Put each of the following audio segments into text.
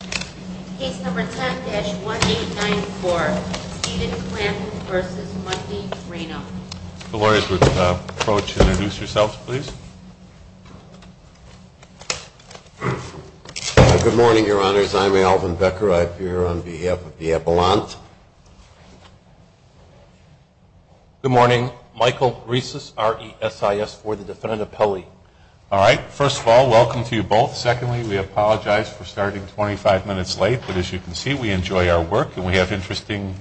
Good morning, your honors. I'm Alvin Becker. I appear on behalf of the Appellant. Good morning. Michael Riesis, R-E-S-I-S, for the Defendant Appellee. All right. First of all, welcome to you both. Secondly, we apologize for starting 25 minutes late, but as you can see, we enjoy our work and we have interesting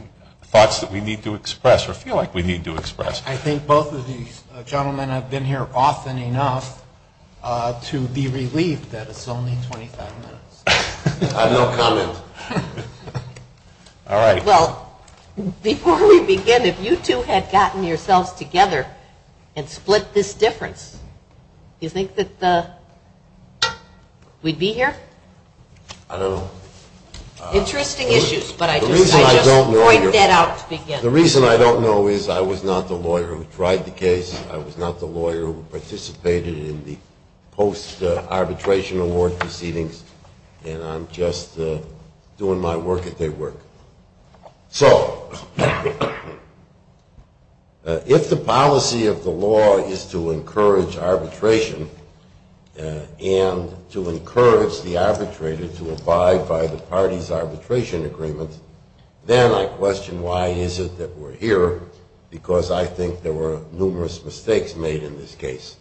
thoughts that we need to express, or feel like we need to express. I think both of these gentlemen have been here often enough to be relieved that it's only 25 minutes. I have no comment. All right. Well, before we begin, if you two had gotten yourselves together and split this difference, do you think that we'd be here? I don't know. Interesting issues, but I just point that out to begin with. The reason I don't know is I was not the lawyer who tried the case, I was not the lawyer who participated in the post-arbitration award proceedings, and I'm just doing my work at their work. So, if the policy of the law is to encourage arbitration and to encourage the arbitrator to abide by the party's arbitration agreement, then I question why is it that we're here, because I think there were numerous mistakes made in this case.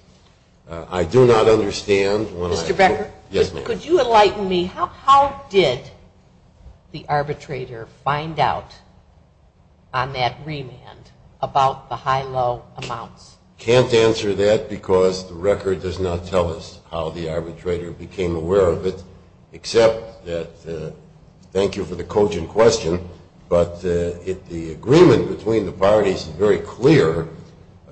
I do not understand when I... Mr. Becker? Yes, ma'am. Could you enlighten me? How did the arbitrator find out on that remand about the high-low amounts? Can't answer that, because the record does not tell us how the arbitrator became aware of it, except that, thank you for the cogent question, but if the agreement between the parties is very clear,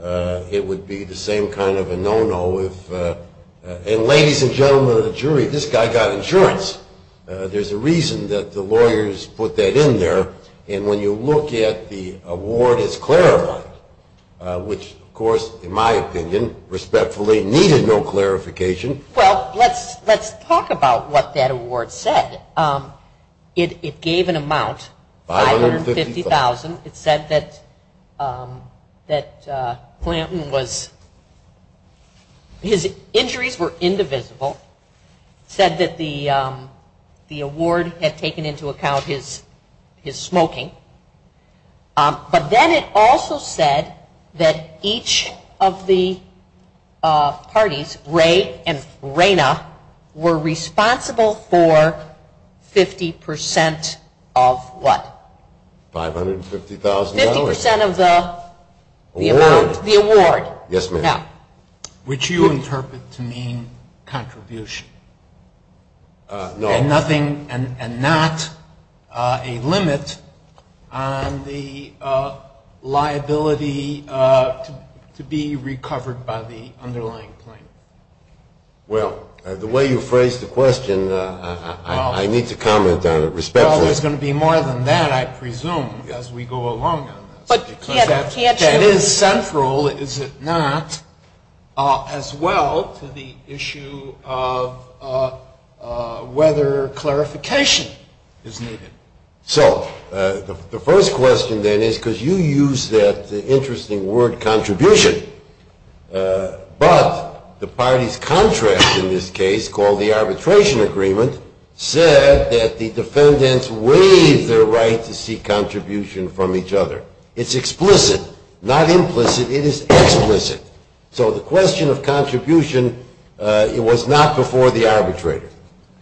it would be the same kind of a no-no if... And ladies and gentlemen of the jury, this guy got insurance. There's a reason that the lawyers put that in there, and when you look at the award, it's clarified, which, of course, in my opinion, respectfully, needed no clarification. Well, let's talk about what that award said. It gave an amount, $550,000. It said that Planton was... His injuries were indivisible. It said that the award had taken into account his smoking. But then it also said that each of the parties, Ray and Rayna, were responsible for 50% of what? $550,000. 50% of the amount, the award. Yes, ma'am. Now... Which you interpret to mean contribution. No. And not a limit on the liability to be recovered by the underlying plaintiff. Well, the way you phrased the question, I need to comment on it respectfully. Well, there's going to be more than that, I presume, as we go along on this. That is central, is it not, as well to the issue of whether clarification is needed. So, the first question, then, is, because you used that interesting word, contribution, but the party's contract, in this case, called the arbitration agreement, said that the defendants waived their right to seek contribution from each other. It's explicit, not implicit. It is explicit. So, the question of contribution, it was not before the arbitrator.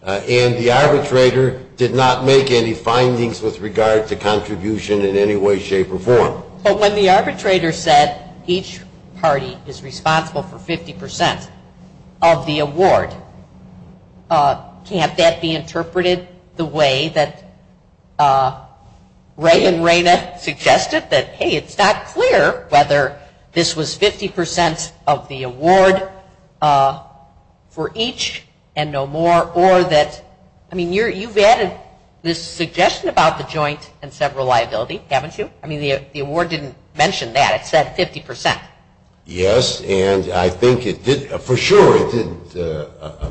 And the arbitrator did not make any findings with regard to contribution in any way, shape, or form. But when the arbitrator said each party is responsible for 50% of the award, can't that be interpreted the way that Ray and Raina suggested that, hey, it's not clear whether this was 50% of the award for each and no more, or that, I mean, you've added this suggestion about the joint and several liability, haven't you? I mean, the award didn't mention that. It said 50%. Yes, and I think it did. For sure it didn't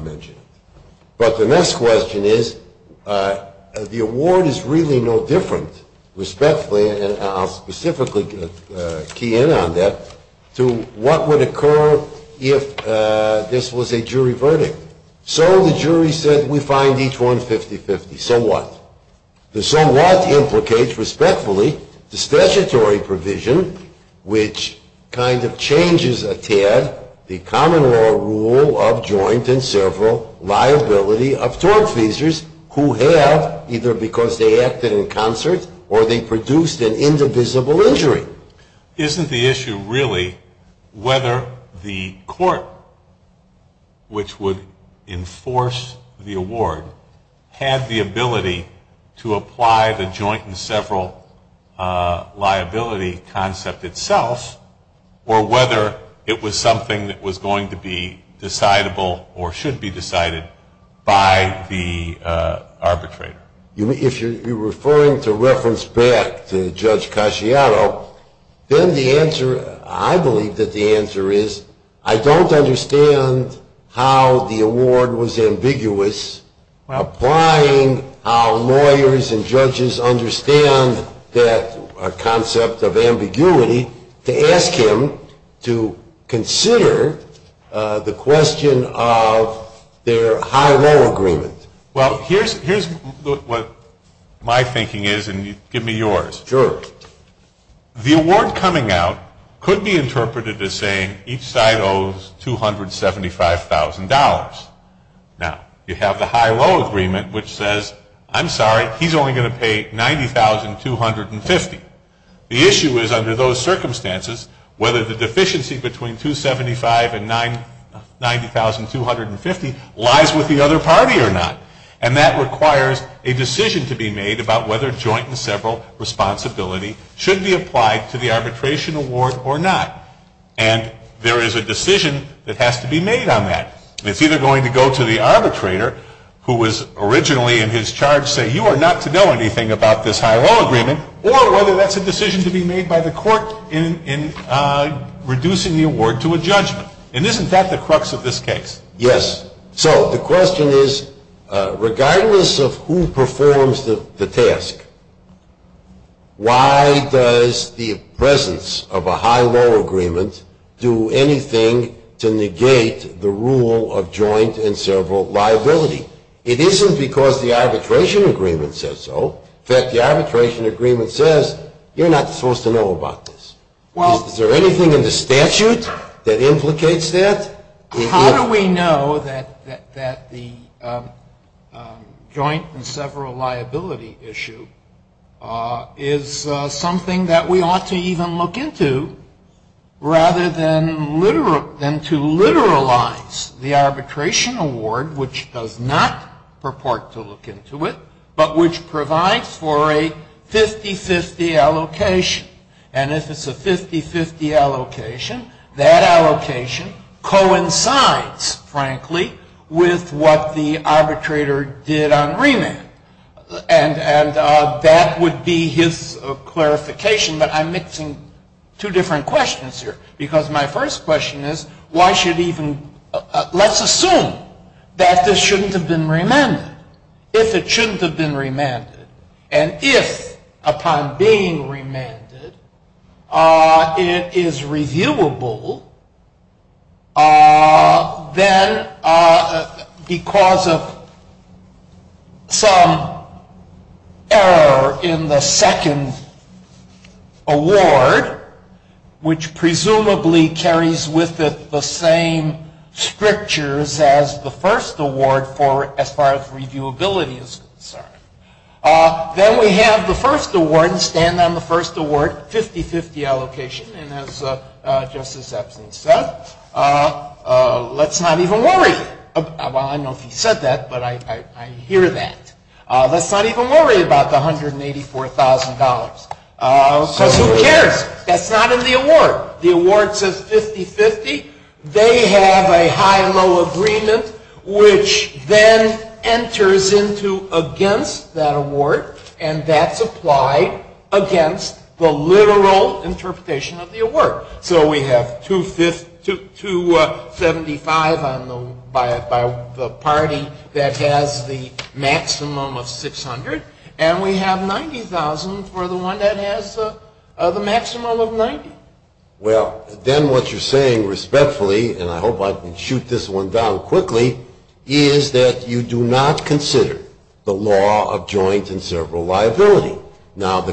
mention it. But the next question is, the award is really no different, respectfully, and I'll specifically key in on that, to what would occur if this was a jury verdict. So, the jury said we find each one 50-50. So what? This somewhat implicates, respectfully, the statutory provision, which kind of changes a tad the common law rule of joint and several liability of tortfeasors who have, either because they acted in concert or they produced an indivisible injury. Isn't the issue really whether the court, which would enforce the award, had the ability to apply the joint and several liability concept itself, or whether it was something that was going to be decidable or should be decided by the arbitrator? If you're referring to reference back to Judge Casciato, then I believe that the answer is I don't understand how the award was ambiguous, applying how lawyers and judges understand that concept of ambiguity, to ask him to consider the question of their high-low agreement. Well, here's what my thinking is, and give me yours. Sure. The award coming out could be interpreted as saying each side owes $275,000. Now, you have the high-low agreement, which says, I'm sorry, he's only going to pay $90,250. The issue is, under those circumstances, whether the deficiency between $275,000 and $90,250 lies with the other party or not. And that requires a decision to be made about whether joint and several responsibility should be applied to the arbitration award or not. And there is a decision that has to be made on that. It's either going to go to the arbitrator, who was originally in his charge, say, you are not to know anything about this high-low agreement, or whether that's a decision to be made by the court in reducing the award to a judgment. And isn't that the crux of this case? Yes. So the question is, regardless of who performs the task, why does the presence of a high-low agreement do anything to negate the rule of joint and several liability? It isn't because the arbitration agreement says so. In fact, the arbitration agreement says, you're not supposed to know about this. Is there anything in the statute that implicates that? How do we know that the joint and several liability issue is something that we ought to even look into, rather than to literalize the arbitration award, which does not purport to look into it, but which provides for a 50-50 allocation? And if it's a 50-50 allocation, that allocation coincides, frankly, with what the arbitrator did on remand. And that would be his clarification, but I'm mixing two different questions here, because my first question is, why should even – let's assume that this shouldn't have been remanded. If it shouldn't have been remanded, and if, upon being remanded, it is reviewable, then because of some error in the second award, which presumably carries with it the same strictures as the first award as far as reviewability is concerned, then we have the first award and stand on the first award, 50-50 allocation. And as Justice Epstein said, let's not even worry – well, I don't know if he said that, but I hear that. Let's not even worry about the $184,000, because who cares? That's not in the award. The award says 50-50. They have a high-low agreement, which then enters into against that award, and that's applied against the literal interpretation of the award. So we have $275,000 by the party that has the maximum of $600,000, and we have $90,000 for the one that has the maximum of $90,000. Well, then what you're saying respectfully, and I hope I can shoot this one down quickly, is that you do not consider the law of joint and several liability. The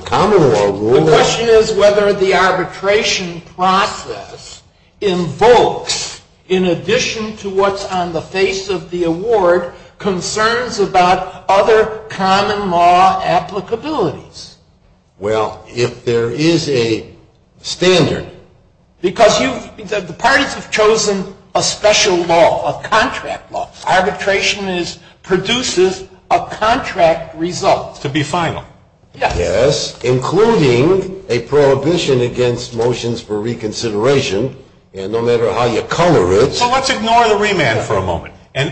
question is whether the arbitration process invokes, in addition to what's on the face of the award, concerns about other common law applicabilities. Well, if there is a standard. Because the parties have chosen a special law, a contract law. Arbitration produces a contract result. To be final. Yes, including a prohibition against motions for reconsideration, and no matter how you color it. Well, let's ignore the remand for a moment. And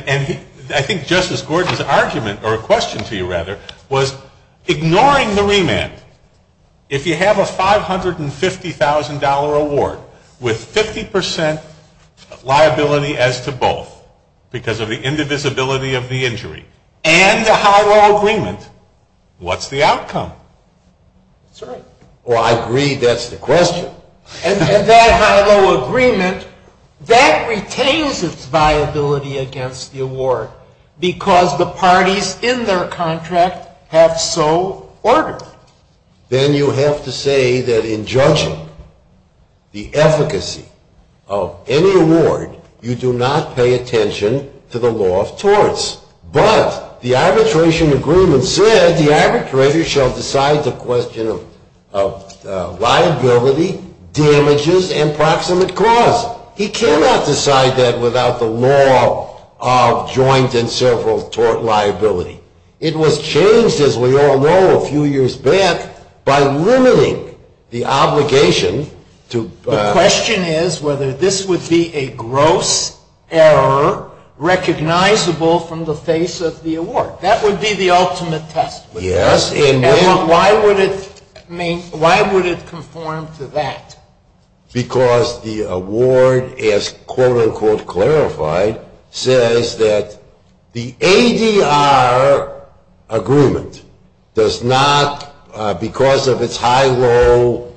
I think Justice Gordon's argument, or question to you rather, was ignoring the remand. If you have a $550,000 award with 50% liability as to both, because of the indivisibility of the injury, and the HILO agreement, what's the outcome? Well, I agree that's the question. And that HILO agreement, that retains its viability against the award, because the parties in their contract have so ordered. Then you have to say that in judging the efficacy of any award, you do not pay attention to the law of torts. But the arbitration agreement said the arbitrator shall decide the question of liability, damages, and proximate cause. He cannot decide that without the law of joint and several tort liability. It was changed, as we all know, a few years back, by limiting the obligation to The question is whether this would be a gross error recognizable from the face of the award. That would be the ultimate test. Yes. Edward, why would it conform to that? Because the award, as quote unquote clarified, says that the ADR agreement does not, because of its HILO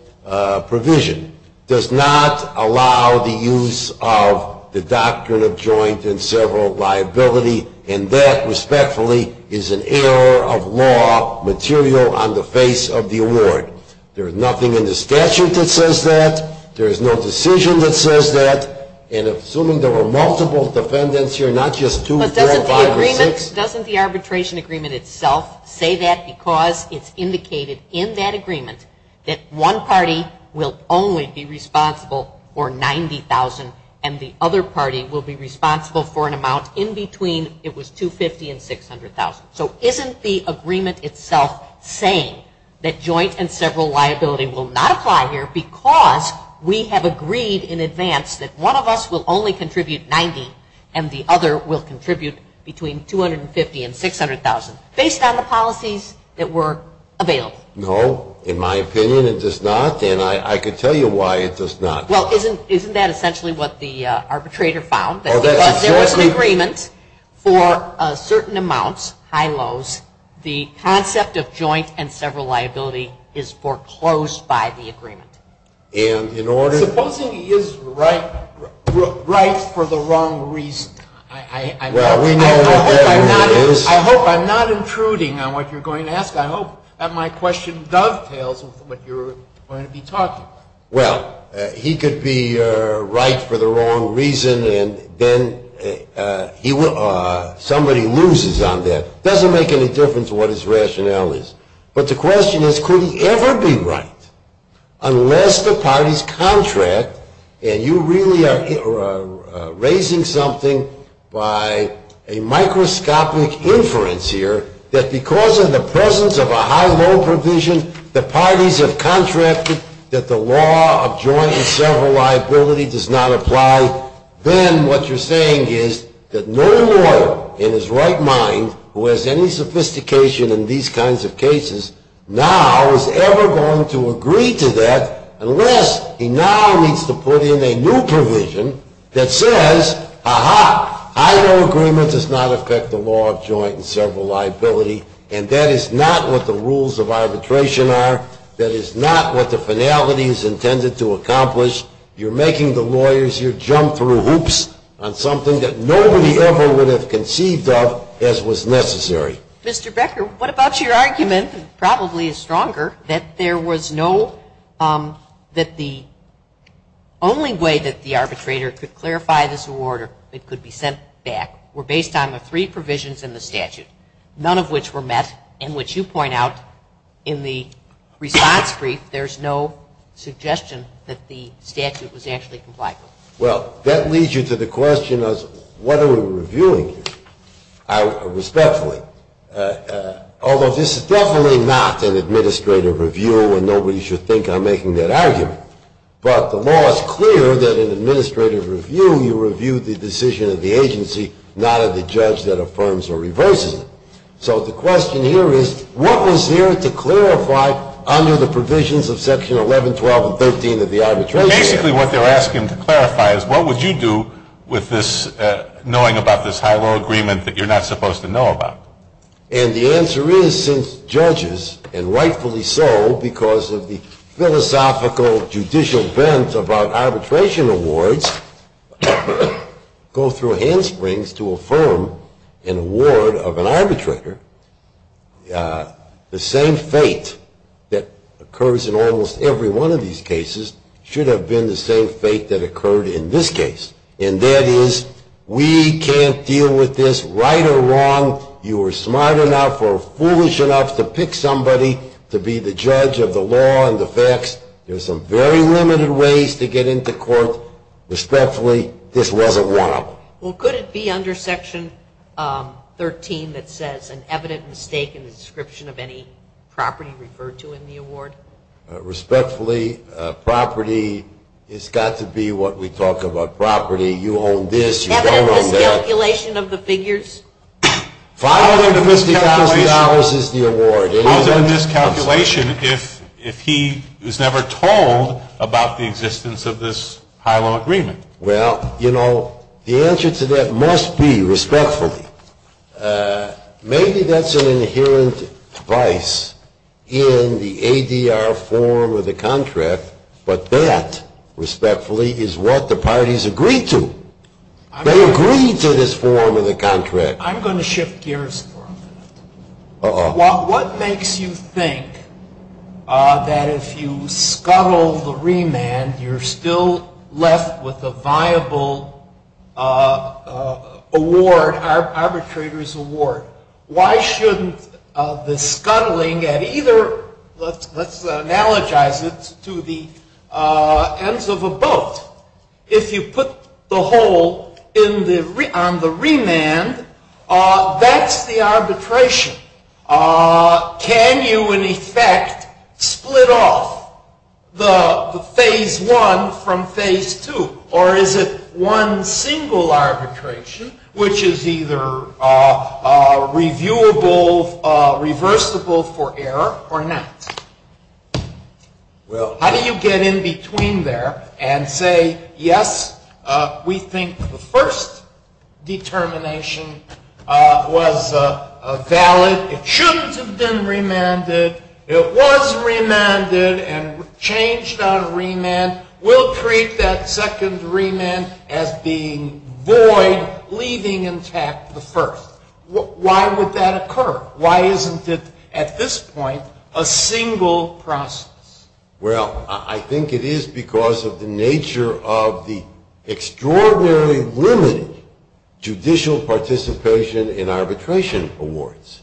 provision, does not allow the use of the doctrine of joint and several liability. And that, respectfully, is an error of law material on the face of the award. There is nothing in the statute that says that. There is no decision that says that. And assuming there were multiple defendants here, not just two, four, five, or six. But doesn't the agreement, doesn't the arbitration agreement itself say that? Because it's indicated in that agreement that one party will only be responsible for 90,000, and the other party will be responsible for an amount in between, it was 250,000 and 600,000. So isn't the agreement itself saying that joint and several liability will not apply here because we have agreed in advance that one of us will only contribute 90,000, and the other will contribute between 250,000 and 600,000, based on the policies that were available? No. In my opinion, it does not. And I can tell you why it does not. Well, isn't that essentially what the arbitrator found? That because there is an agreement for certain amounts, high-lows, the concept of joint and several liability is foreclosed by the agreement. And in order to... Supposing he is right for the wrong reason. Well, we know what that is. I hope I'm not intruding on what you're going to ask. I hope that my question dovetails with what you're going to be talking about. Well, he could be right for the wrong reason and then somebody loses on that. It doesn't make any difference what his rationale is. But the question is, could he ever be right unless the parties contract, and you really are raising something by a microscopic inference here, that because of the presence of a high-low provision, the parties have contracted that the law of joint and several liability does not apply, then what you're saying is that no lawyer in his right mind who has any sophistication in these kinds of cases now is ever going to agree to that unless he now needs to put in a new provision that says, aha, high-low agreement does not affect the law of joint and several liability, and that is not what the rules of arbitration are. That is not what the finality is intended to accomplish. You're making the lawyers here jump through hoops on something that nobody ever would have conceived of as was necessary. Mr. Becker, what about your argument, and probably is stronger, that the only way that the arbitrator could clarify this order that could be sent back were based on the three provisions in the statute, none of which were met, and which you point out in the response brief there's no suggestion that the statute was actually compliant with? Well, that leads you to the question of whether we were reviewing it respectfully, although this is definitely not an administrative review, and nobody should think I'm making that argument. But the law is clear that in administrative review, you review the decision of the agency, not of the judge that affirms or reverses it. So the question here is, what was there to clarify under the provisions of Section 11, 12, and 13 of the Arbitration Act? Basically, what they're asking to clarify is, what would you do with knowing about this high-low agreement that you're not supposed to know about? And the answer is, since judges, and rightfully so, because of the philosophical judicial bent about arbitration awards, go through handsprings to affirm an award of an arbitrator, the same fate that occurs in almost every one of these cases should have been the same fate that occurred in this case. And that is, we can't deal with this right or wrong. You were smart enough or foolish enough to pick somebody to be the judge of the law and the facts. There's some very limited ways to get into court. Respectfully, this wasn't one of them. Well, could it be under Section 13 that says, an evident mistake in the description of any property referred to in the award? Respectfully, property has got to be what we talk about. Property, you own this, you don't own that. Evident miscalculation of the figures? $500,000 is the award. It was a miscalculation if he was never told about the existence of this high-low agreement. Well, you know, the answer to that must be respectfully. Maybe that's an inherent vice in the ADR form of the contract, but that, respectfully, is what the parties agreed to. They agreed to this form of the contract. I'm going to shift gears for a minute. Uh-oh. What makes you think that if you scuttle the remand, you're still left with a viable award, arbitrator's award? Why shouldn't the scuttling at either, let's analogize it to the ends of a boat. If you put the whole on the remand, that's the arbitration. Can you, in effect, split off the phase one from phase two? Or is it one single arbitration, which is either reviewable, reversible for error, or not? Well, how do you get in between there and say, yes, we think the first determination was valid? It shouldn't have been remanded. It was remanded and changed on remand. We'll treat that second remand as being void, leaving intact the first. Why would that occur? Why isn't it, at this point, a single process? Well, I think it is because of the nature of the extraordinarily limited judicial participation in arbitration awards.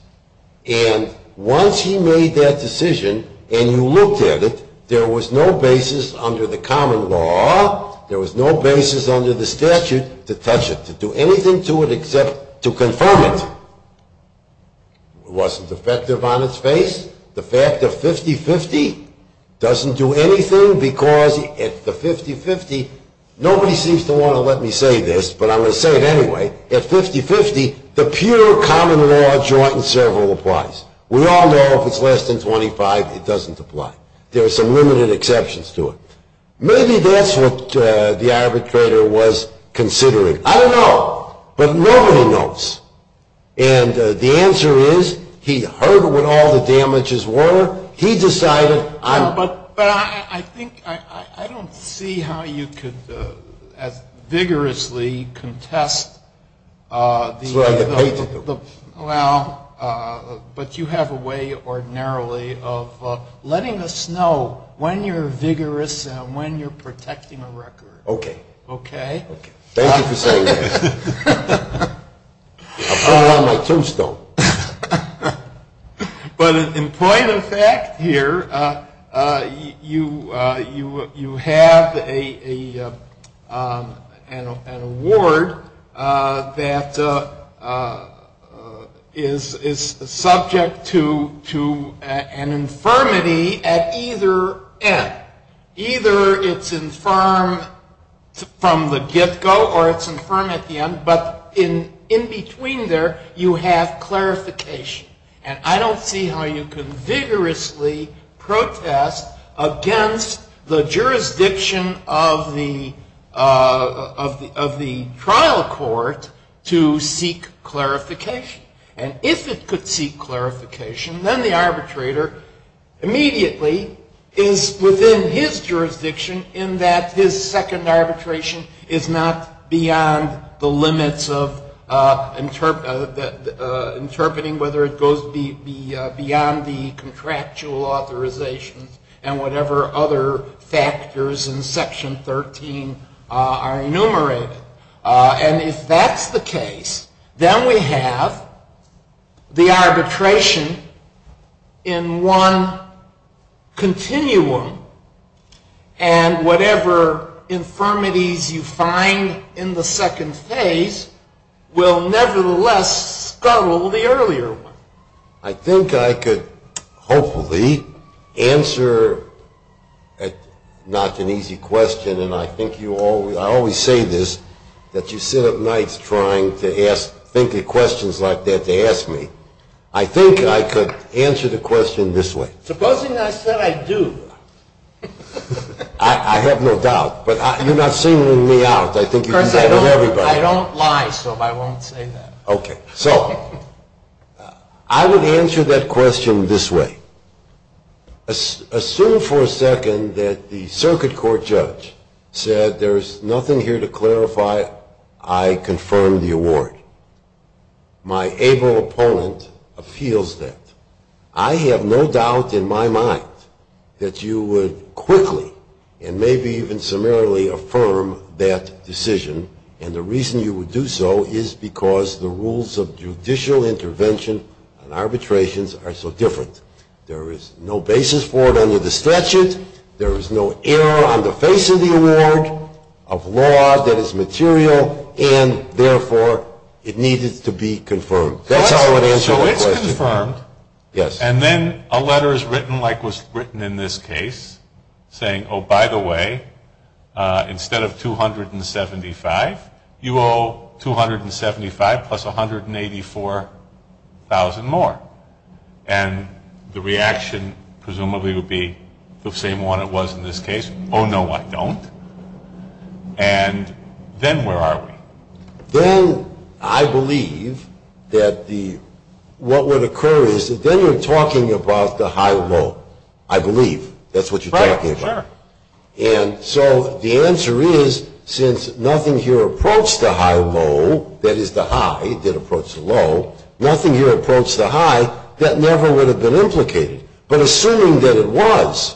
And once he made that decision and you looked at it, there was no basis under the common law, there was no basis under the statute to touch it, to do anything to it except to confirm it. It wasn't effective on its face. The fact of 50-50 doesn't do anything because at the 50-50, nobody seems to want to let me say this, but I'm going to say it anyway. At 50-50, the pure common law joint and several applies. We all know if it's less than 25, it doesn't apply. There are some limited exceptions to it. Maybe that's what the arbitrator was considering. I don't know. But nobody knows. And the answer is he heard what all the damages were. He decided. But I think I don't see how you could as vigorously contest the law, but you have a way, ordinarily, of letting us know when you're vigorous and when you're protecting a record. Okay. Okay? Thank you for saying that. I'll put it on my tombstone. But in point of fact here, you have an award that is subject to an infirmity at either end. Either it's infirm from the get-go or it's infirm at the end. But in between there, you have clarification. And I don't see how you can vigorously protest against the jurisdiction of the trial court to seek clarification. And if it could seek clarification, then the arbitrator immediately is within his jurisdiction in that his second arbitration is not beyond the limits of interpreting whether it goes beyond the contractual authorizations and whatever other factors in Section 13 are enumerated. And if that's the case, then we have the arbitration in one continuum, and whatever infirmities you find in the second phase will nevertheless scuttle the earlier one. I think I could hopefully answer not an easy question. And I always say this, that you sit up nights trying to think of questions like that to ask me. I think I could answer the question this way. Supposing I said I do. I have no doubt. But you're not sealing me out. I think you can say that to everybody. I don't lie, so I won't say that. Okay. So I would answer that question this way. Assume for a second that the circuit court judge said there's nothing here to clarify. I confirm the award. My able opponent appeals that. I have no doubt in my mind that you would quickly and maybe even summarily affirm that decision. And the reason you would do so is because the rules of judicial intervention and arbitrations are so different. There is no basis for it under the statute. There is no error on the face of the award of law that is material, and, therefore, it needed to be confirmed. That's how I would answer that question. So it's confirmed. Yes. And then a letter is written like was written in this case, saying, oh, by the way, instead of $275,000, you owe $275,000 plus $184,000 more. And the reaction presumably would be the same one it was in this case, oh, no, I don't. And then where are we? Then I believe that what would occur is that then you're talking about the high-low. I believe that's what you're talking about. Right. Sure. And so the answer is, since nothing here approached the high-low, that is, the high did approach the low, nothing here approached the high, that never would have been implicated. But assuming that it was,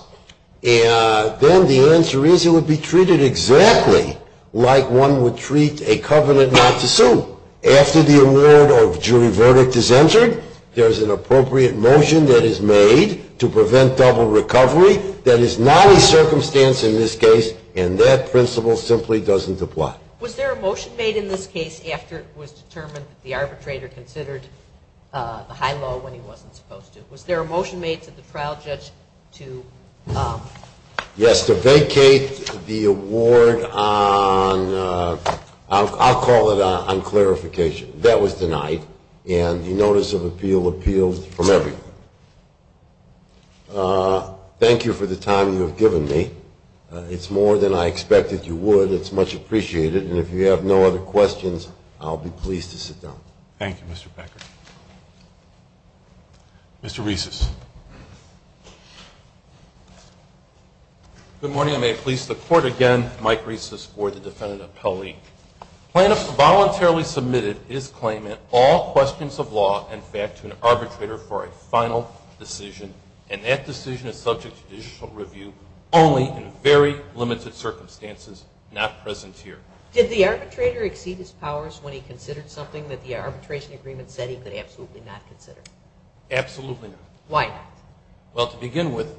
then the answer is it would be treated exactly like one would treat a covenant not to sue. After the award of jury verdict is entered, there's an appropriate motion that is made to prevent double recovery. That is not a circumstance in this case, and that principle simply doesn't apply. Was there a motion made in this case after it was determined that the arbitrator considered the high-low when he wasn't supposed to? Was there a motion made to the trial judge to? Yes, to vacate the award on, I'll call it on clarification. That was denied, and the notice of appeal appealed from everyone. Thank you for the time you have given me. It's more than I expected you would. It's much appreciated. And if you have no other questions, I'll be pleased to sit down. Thank you, Mr. Becker. Mr. Reeses. Good morning. I may please the Court again. Mike Reeses for the Defendant Appellee. Plaintiffs voluntarily submitted his claim in all questions of law and fact to an arbitrator for a final decision, and that decision is subject to judicial review only in very limited circumstances, not present here. Did the arbitrator exceed his powers when he considered something that the arbitration agreement said he could absolutely not consider? Absolutely not. Why not? Well, to begin with,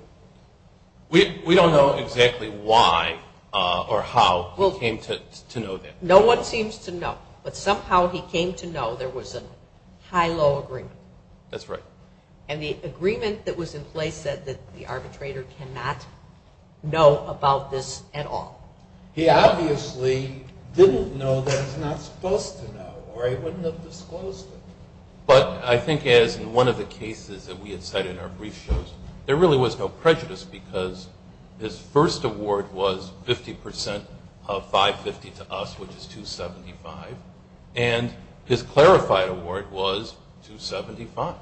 we don't know exactly why or how he came to know that. No one seems to know, but somehow he came to know there was a high-low agreement. That's right. And the agreement that was in place said that the arbitrator cannot know about this at all. He obviously didn't know that he's not supposed to know, or he wouldn't have disclosed it. But I think as in one of the cases that we had cited in our brief shows, there really was no prejudice because his first award was 50 percent of 550 to us, which is 275, and his clarified award was 275.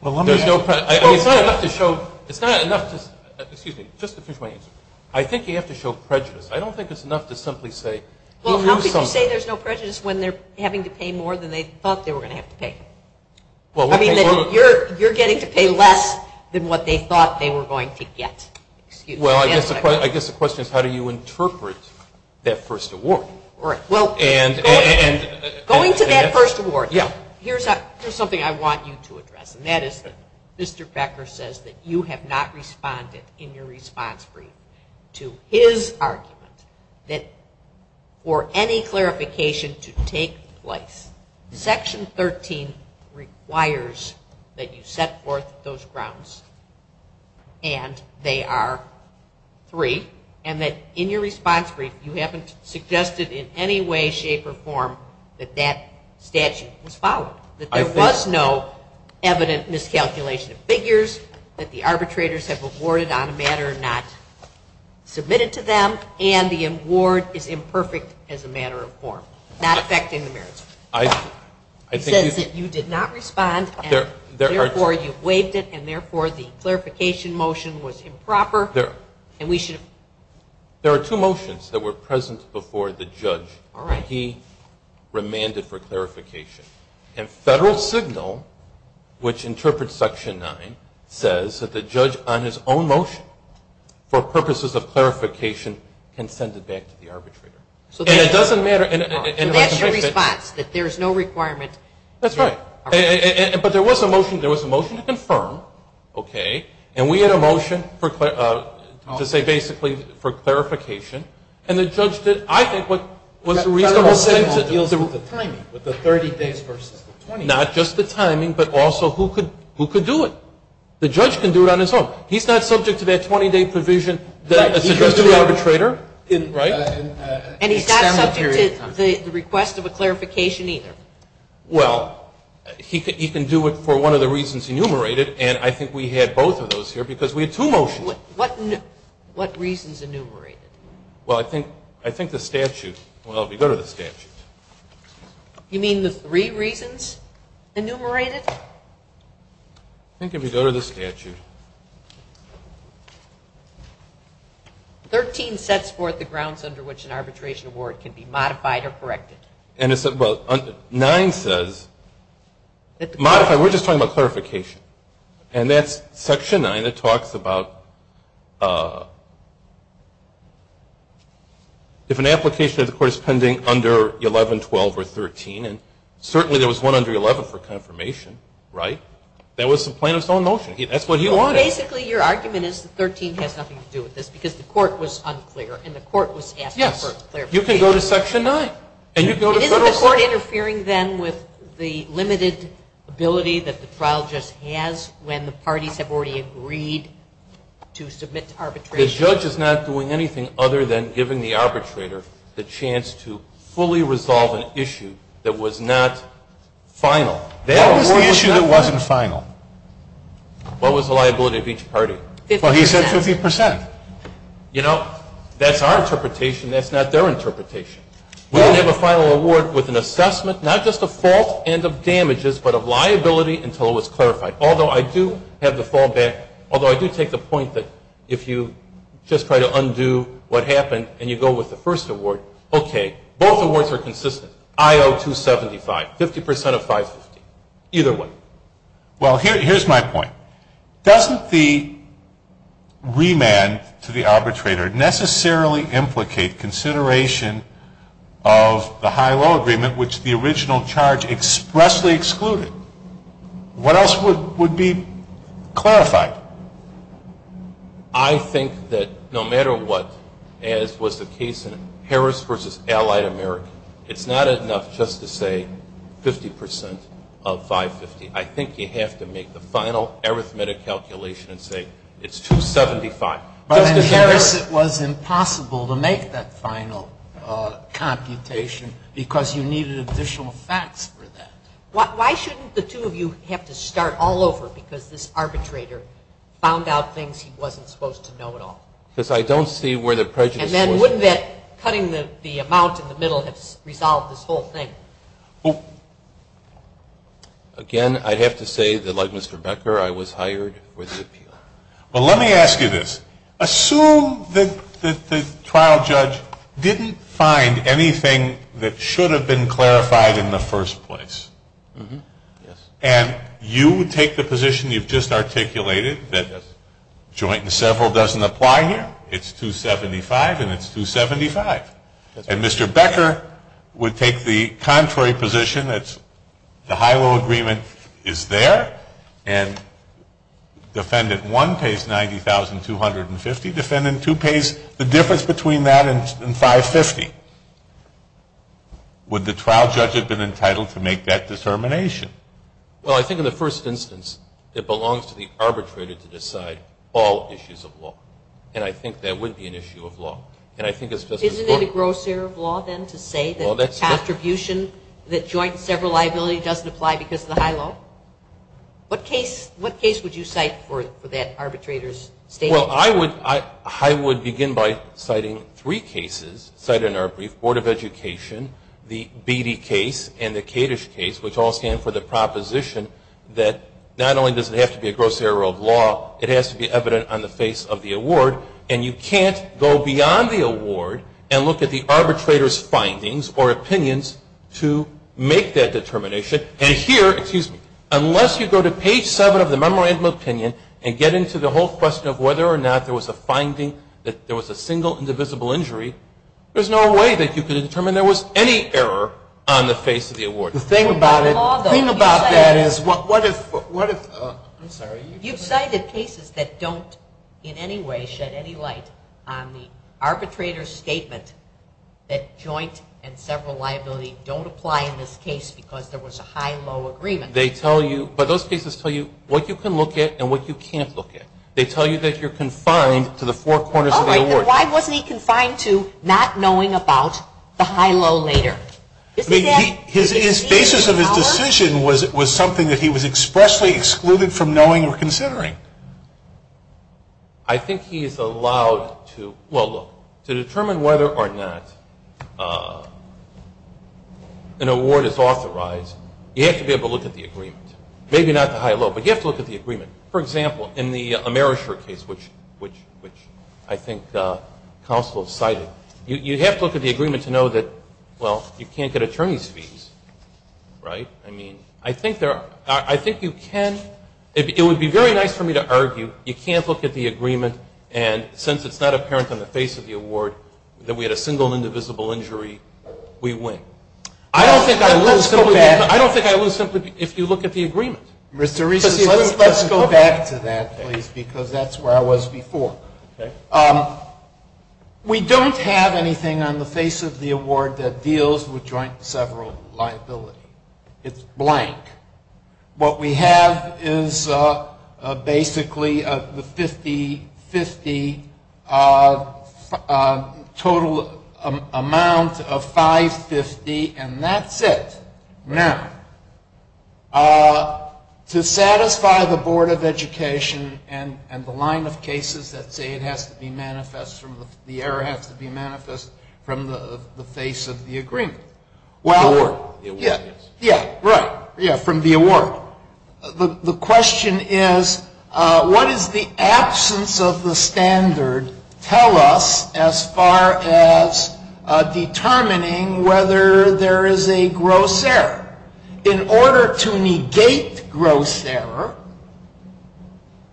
Well, let me ask you. It's not enough to show – it's not enough to – excuse me, just to finish my answer. I think you have to show prejudice. I don't think it's enough to simply say – Well, how could you say there's no prejudice when they're having to pay more than they thought they were going to have to pay? I mean, you're getting to pay less than what they thought they were going to get. Excuse me. Well, I guess the question is how do you interpret that first award? Well, going to that first award, here's something I want you to address, and that is that Mr. Becker says that you have not responded in your response brief to his argument that for any clarification to take place, Section 13 requires that you set forth those grounds, and they are three, and that in your response brief you haven't suggested in any way, shape, or form that that statute was followed. That there was no evident miscalculation of figures, that the arbitrators have awarded on a matter not submitted to them, and the award is imperfect as a matter of form, not affecting the merits. He says that you did not respond, and therefore you waived it, and therefore the clarification motion was improper, and we should – There are two motions that were present before the judge, and he remanded for clarification. And Federal Signal, which interprets Section 9, says that the judge on his own motion for purposes of clarification can send it back to the arbitrator. And it doesn't matter – So that's your response, that there's no requirement – That's right. But there was a motion to confirm, okay, and we had a motion to say basically for clarification, and the judge did, I think, what was reasonable – Federal Signal deals with the timing, with the 30 days versus the 20 days. Not just the timing, but also who could do it. The judge can do it on his own. He's not subject to that 20-day provision that's addressed to the arbitrator, right? And he's not subject to the request of a clarification either. Well, he can do it for one of the reasons enumerated, and I think we had both of those here because we had two motions. What reasons enumerated? Well, I think the statute – well, if you go to the statute. You mean the three reasons enumerated? I think if you go to the statute. Thirteen sets forth the grounds under which an arbitration award can be modified or corrected. Well, 9 says – we're just talking about clarification. And that's Section 9. It talks about if an application of the court is pending under 11, 12, or 13, and certainly there was one under 11 for confirmation, right? That was the plaintiff's own motion. That's what he wanted. Well, basically your argument is that 13 has nothing to do with this because the court was unclear, and the court was asking for clarification. Yes. You can go to Section 9, and you go to Federal Signal. Is the court interfering then with the limited ability that the trial just has when the parties have already agreed to submit to arbitration? The judge is not doing anything other than giving the arbitrator the chance to fully resolve an issue that was not final. What was the issue that wasn't final? What was the liability of each party? 50%. Well, he said 50%. You know, that's our interpretation. That's not their interpretation. We don't have a final award with an assessment, not just of fault and of damages, but of liability until it was clarified. Although I do have the fallback. Although I do take the point that if you just try to undo what happened and you go with the first award, okay, both awards are consistent. I owe $275,000, 50% of $550,000. Either way. Well, here's my point. Doesn't the remand to the arbitrator necessarily implicate consideration of the high-low agreement, which the original charge expressly excluded? What else would be clarified? I think that no matter what, as was the case in Harris v. Allied America, it's not enough just to say 50% of $550,000. I think you have to make the final arithmetic calculation and say it's $275,000. But in Harris it was impossible to make that final computation because you needed additional facts for that. Why shouldn't the two of you have to start all over because this arbitrator found out things he wasn't supposed to know at all? Because I don't see where the prejudice was. And then wouldn't that cutting the amount in the middle have resolved this whole thing? Again, I'd have to say that, like Mr. Becker, I was hired for the appeal. Well, let me ask you this. Assume that the trial judge didn't find anything that should have been clarified in the first place. And you would take the position you've just articulated, that joint and several doesn't apply here. And Mr. Becker would take the contrary position that the high-low agreement is there and defendant one pays $90,250, defendant two pays the difference between that and $550,000. Would the trial judge have been entitled to make that determination? Well, I think in the first instance it belongs to the arbitrator to decide all issues of law. And I think that would be an issue of law. And I think it's just as important. Isn't it a gross error of law, then, to say that the contribution that joint and several liability doesn't apply because of the high-low? What case would you cite for that arbitrator's statement? Well, I would begin by citing three cases cited in our brief. Board of Education, the Beattie case, and the Kadish case, which all stand for the proposition that not only does it have to be a gross error of law, it has to be evident on the face of the award. And you can't go beyond the award and look at the arbitrator's findings or opinions to make that determination. And here, unless you go to page seven of the memorandum of opinion and get into the whole question of whether or not there was a finding that there was a single indivisible injury, there's no way that you could determine there was any error on the face of the award. The thing about that is what if you've cited cases that don't in any way shed any light on the arbitrator's statement that joint and several liability don't apply in this case because there was a high-low agreement? But those cases tell you what you can look at and what you can't look at. They tell you that you're confined to the four corners of the award. All right, then why wasn't he confined to not knowing about the high-low later? His basis of his decision was something that he was expressly excluded from knowing or considering. I think he is allowed to, well, look, to determine whether or not an award is authorized, you have to be able to look at the agreement. Maybe not the high-low, but you have to look at the agreement. For example, in the Amerisher case, which I think counsel cited, you have to look at the agreement to know that, well, you can't get attorney's fees. Right? I mean, I think you can. It would be very nice for me to argue you can't look at the agreement, and since it's not apparent on the face of the award that we had a single indivisible injury, we win. I don't think I lose simply if you look at the agreement. Mr. Reese, let's go back to that, please, because that's where I was before. We don't have anything on the face of the award that deals with joint and several liability. It's blank. What we have is basically the 50-50 total amount of 550, and that's it. Now, to satisfy the Board of Education and the line of cases that say it has to be manifest, the error has to be manifest from the face of the agreement. The award, yes. Yeah, right. Yeah, from the award. The question is, what does the absence of the standard tell us as far as In order to negate gross error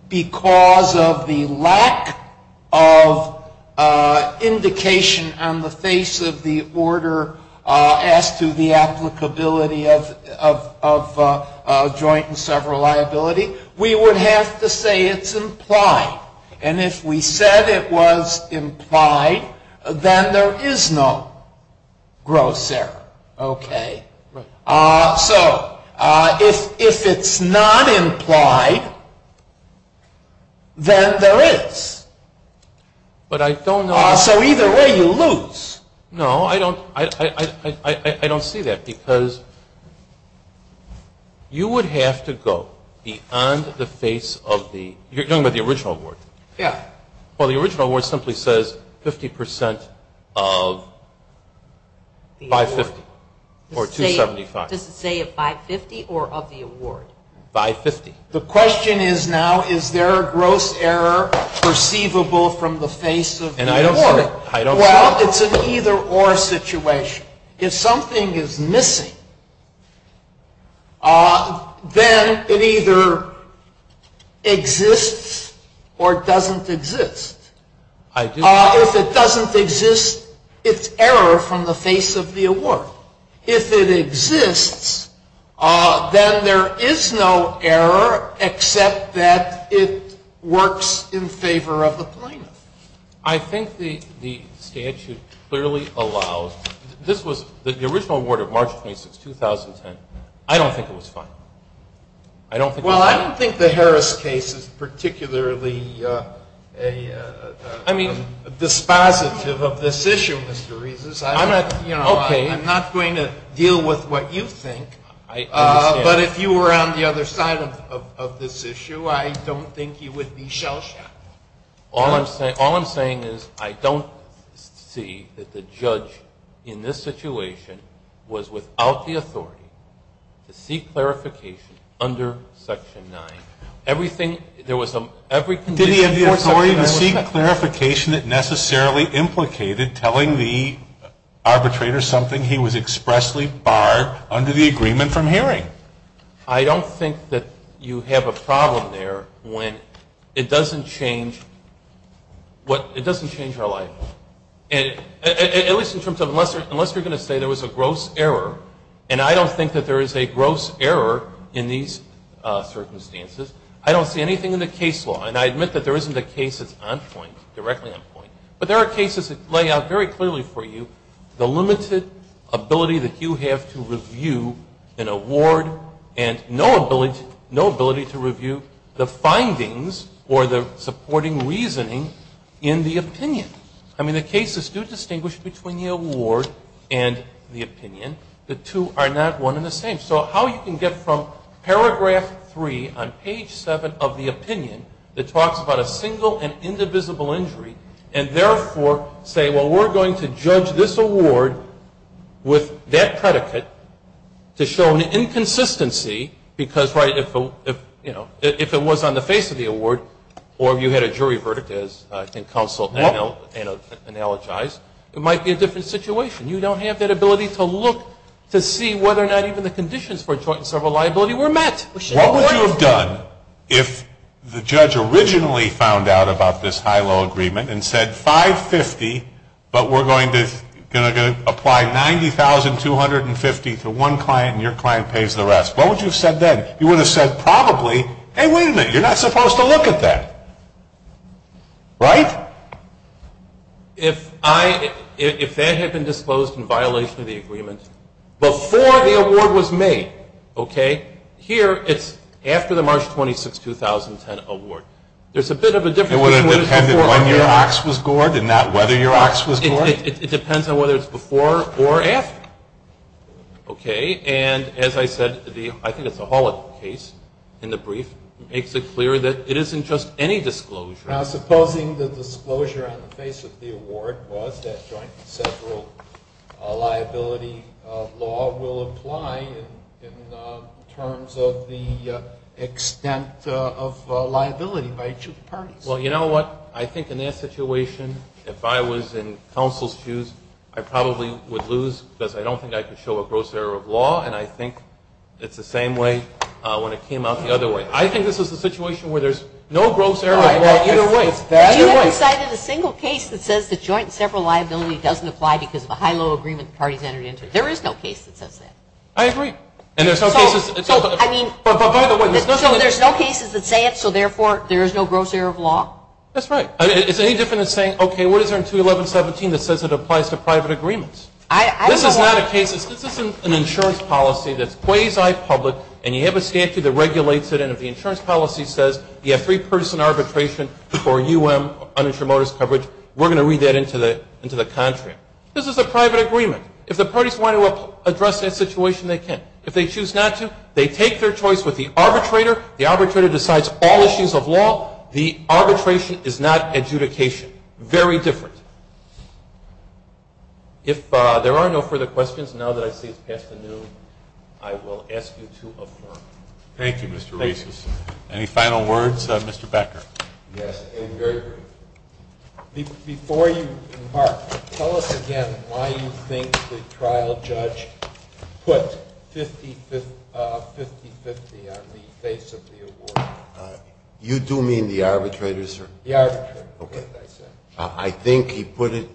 because of the lack of indication on the face of the order as to the applicability of joint and several liability, we would have to say it's implied. And if we said it was implied, then there is no gross error. Okay. So if it's not implied, then there is. But I don't know. So either way, you lose. No, I don't see that because you would have to go beyond the face of the – you're talking about the original award. Yeah. Well, the original award simply says 50% of 550 or 275. Does it say 550 or of the award? 550. The question is now, is there a gross error perceivable from the face of the order? And I don't see it. I don't see it. Well, it's an either-or situation. If something is missing, then it either exists or doesn't exist. If it doesn't exist, it's error from the face of the award. If it exists, then there is no error except that it works in favor of the plaintiff. I think the statute clearly allows – this was the original award of March 26, 2010. I don't think it was fine. I don't think it was fine. Well, I don't think the Harris case is particularly dispositive of this issue, Mr. Rieses. Okay. I'm not going to deal with what you think. I understand. But if you were on the other side of this issue, I don't think you would be shell-shocked. All I'm saying is I don't see that the judge in this situation was without the authority to seek clarification under Section 9. Did he have the authority to seek clarification that necessarily implicated telling the arbitrator something he was expressly barred under the agreement from hearing? I don't think that you have a problem there when it doesn't change our life, at least in terms of unless you're going to say there was a gross error. And I don't think that there is a gross error in these circumstances. I don't see anything in the case law, and I admit that there isn't a case that's on point, directly on point. But there are cases that lay out very clearly for you the limited ability that you have to review an award and no ability to review the findings or the supporting reasoning in the opinion. I mean, the cases do distinguish between the award and the opinion. The two are not one and the same. So how you can get from Paragraph 3 on Page 7 of the opinion that talks about a single and indivisible injury and therefore say, well, we're going to judge this award with that predicate to show an inconsistency because, right, if it was on the face of the award or you had a jury verdict, as I think counsel analogized, it might be a different situation. You don't have that ability to look to see whether or not even the conditions for a short and several liability were met. What would you have done if the judge originally found out about this high-low agreement and said 550, but we're going to apply 90,250 to one client and your client pays the rest? What would you have said then? You would have said probably, hey, wait a minute, you're not supposed to look at that. Right? If that had been disclosed in violation of the agreement before the award was made, okay, here it's after the March 26, 2010 award. There's a bit of a difference between when it was before. It would have depended on when your ox was gored and not whether your ox was gored? It depends on whether it's before or after. Okay, and as I said, I think it's the Hollett case in the brief makes it clear that it isn't just any disclosure. Now, supposing the disclosure on the face of the award was that joint and several liability law will apply in terms of the extent of liability by each of the parties? Well, you know what? I think in that situation, if I was in counsel's shoes, I probably would lose because I don't think I could show a gross error of law, and I think it's the same way when it came out the other way. I think this is the situation where there's no gross error of law either way. You haven't cited a single case that says that joint and several liability doesn't apply because of a high-low agreement the parties entered into. There is no case that says that. I agree. And there's no cases that say it, so therefore there's no gross error of law? That's right. It's any different than saying, okay, what is there in 211-17 that says it applies to private agreements? This is not a case. This is an insurance policy that's quasi-public, and you have a statute that regulates it, and if the insurance policy says you have three-person arbitration for U.M. uninsured motorist coverage, we're going to read that into the contract. This is a private agreement. If the parties want to address that situation, they can. If they choose not to, they take their choice with the arbitrator. The arbitrator decides all issues of law. The arbitration is not adjudication. Very different. If there are no further questions, now that I see it's past noon, I will ask you to affirm. Thank you, Mr. Reese. Any final words, Mr. Becker? Yes. Before you embark, tell us again why you think the trial judge put 50-50 on the face of the award. You do mean the arbitrator, sir? The arbitrator. Okay. I think he put it.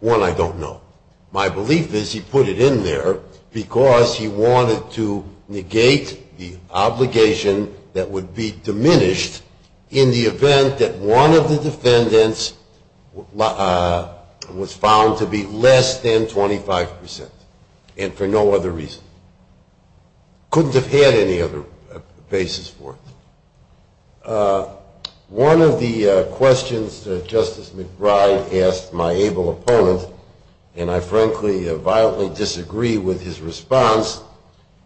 One, I don't know. My belief is he put it in there because he wanted to negate the obligation that would be diminished in the event that one of the defendants was found to be less than 25 percent and for no other reason. Couldn't have had any other basis for it. One of the questions that Justice McBride asked my able opponent, and I frankly violently disagree with his response,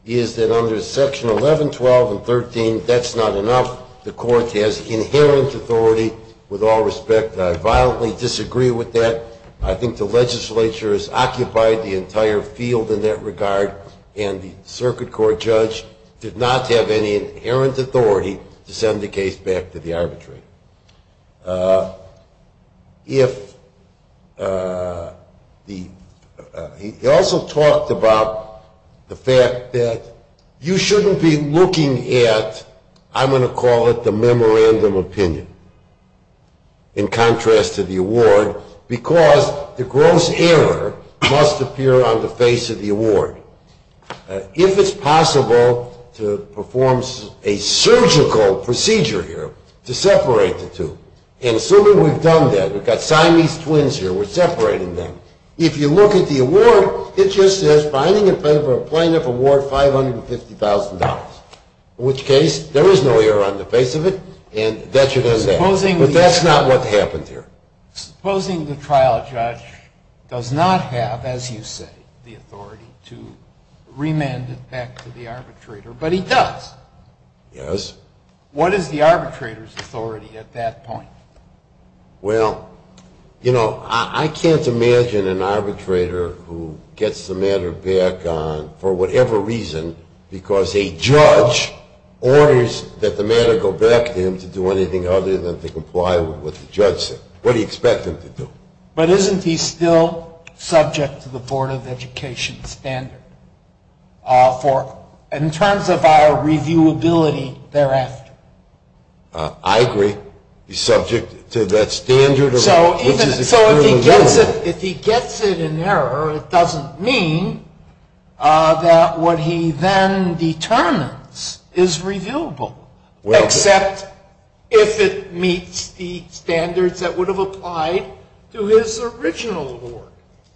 is that under Section 11, 12, and 13, that's not enough. The court has inherent authority with all respect. I violently disagree with that. I think the legislature has occupied the entire field in that regard, and the circuit court judge did not have any inherent authority to send the case back to the arbitrator. He also talked about the fact that you shouldn't be looking at, I'm going to call it the memorandum opinion, in contrast to the award, because the gross error must appear on the face of the award. If it's possible to perform a surgical procedure here to separate the two, and assuming we've done that, we've got Siamese twins here, we're separating them, if you look at the award, it just says, plaintiff award $550,000, in which case there is no error on the face of it, and that should end that. But that's not what happened here. Supposing the trial judge does not have, as you say, the authority to remand it back to the arbitrator, but he does. Yes. What is the arbitrator's authority at that point? Well, you know, I can't imagine an arbitrator who gets the matter back on for whatever reason because a judge orders that the matter go back to him to do anything other than comply with what the judge said. What do you expect him to do? But isn't he still subject to the Board of Education standard in terms of our reviewability thereafter? I agree. He's subject to that standard. So if he gets it in error, it doesn't mean that what he then determines is reviewable, except if it meets the standards that would have applied to his original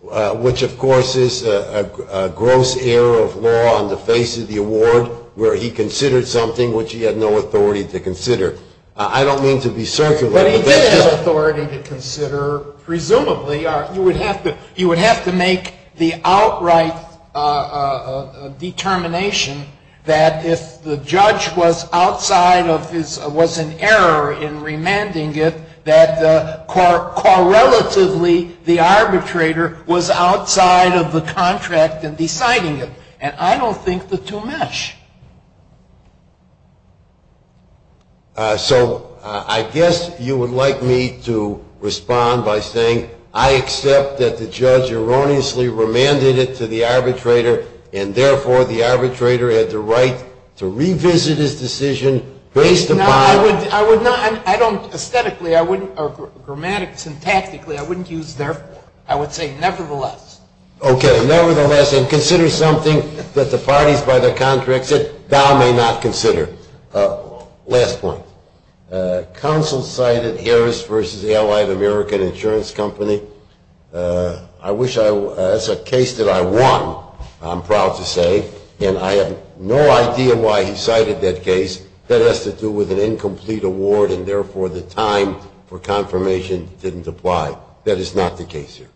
award. Which, of course, is a gross error of law on the face of the award, where he considered something which he had no authority to consider. I don't mean to be circular. But he did have authority to consider, presumably. You would have to make the outright determination that if the judge was outside of his or was in error in remanding it, that correlatively the arbitrator was outside of the contract in deciding it. And I don't think the two mesh. So I guess you would like me to respond by saying, I accept that the judge erroneously remanded it to the arbitrator, and therefore the arbitrator had the right to revisit his decision based upon. No, I would not. Aesthetically, or grammatically, syntactically, I wouldn't use therefore. I would say nevertheless. Okay, nevertheless. And consider something that the parties by the contract said thou may not consider. Last point. Counsel cited Harris v. the Allied American Insurance Company. That's a case that I won, I'm proud to say. And I have no idea why he cited that case. That has to do with an incomplete award, and therefore the time for confirmation didn't apply. That is not the case here.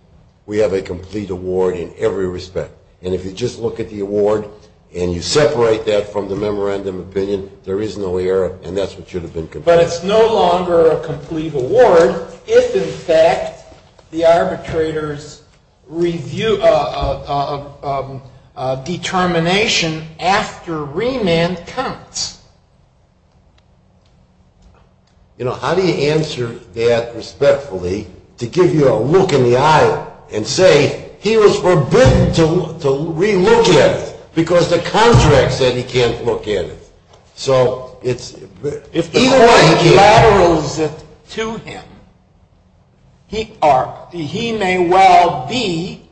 We have a complete award in every respect. And if you just look at the award and you separate that from the memorandum opinion, there is no error, and that's what should have been confirmed. But it's no longer a complete award if, in fact, the arbitrator's determination after remand counts. You know, how do you answer that respectfully? To give you a look in the eye and say he was forbidden to relook at it because the contract said he can't look at it. If the point laterals it to him, he may well be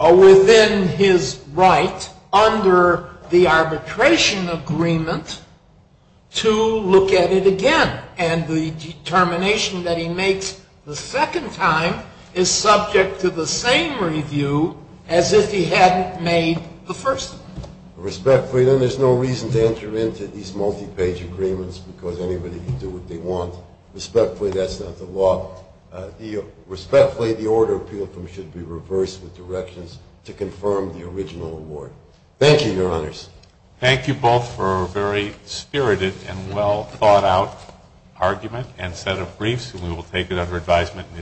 within his right under the arbitration agreement to look at it again. And the determination that he makes the second time is subject to the same review as if he hadn't made the first one. Respectfully, then there's no reason to enter into these multi-page agreements because anybody can do what they want. Respectfully, that's not the law. Respectfully, the order of appeal should be reversed with directions to confirm the original award. Thank you, Your Honors. Thank you both for a very spirited and well-thought-out argument and set of briefs, and we will take it under advisement.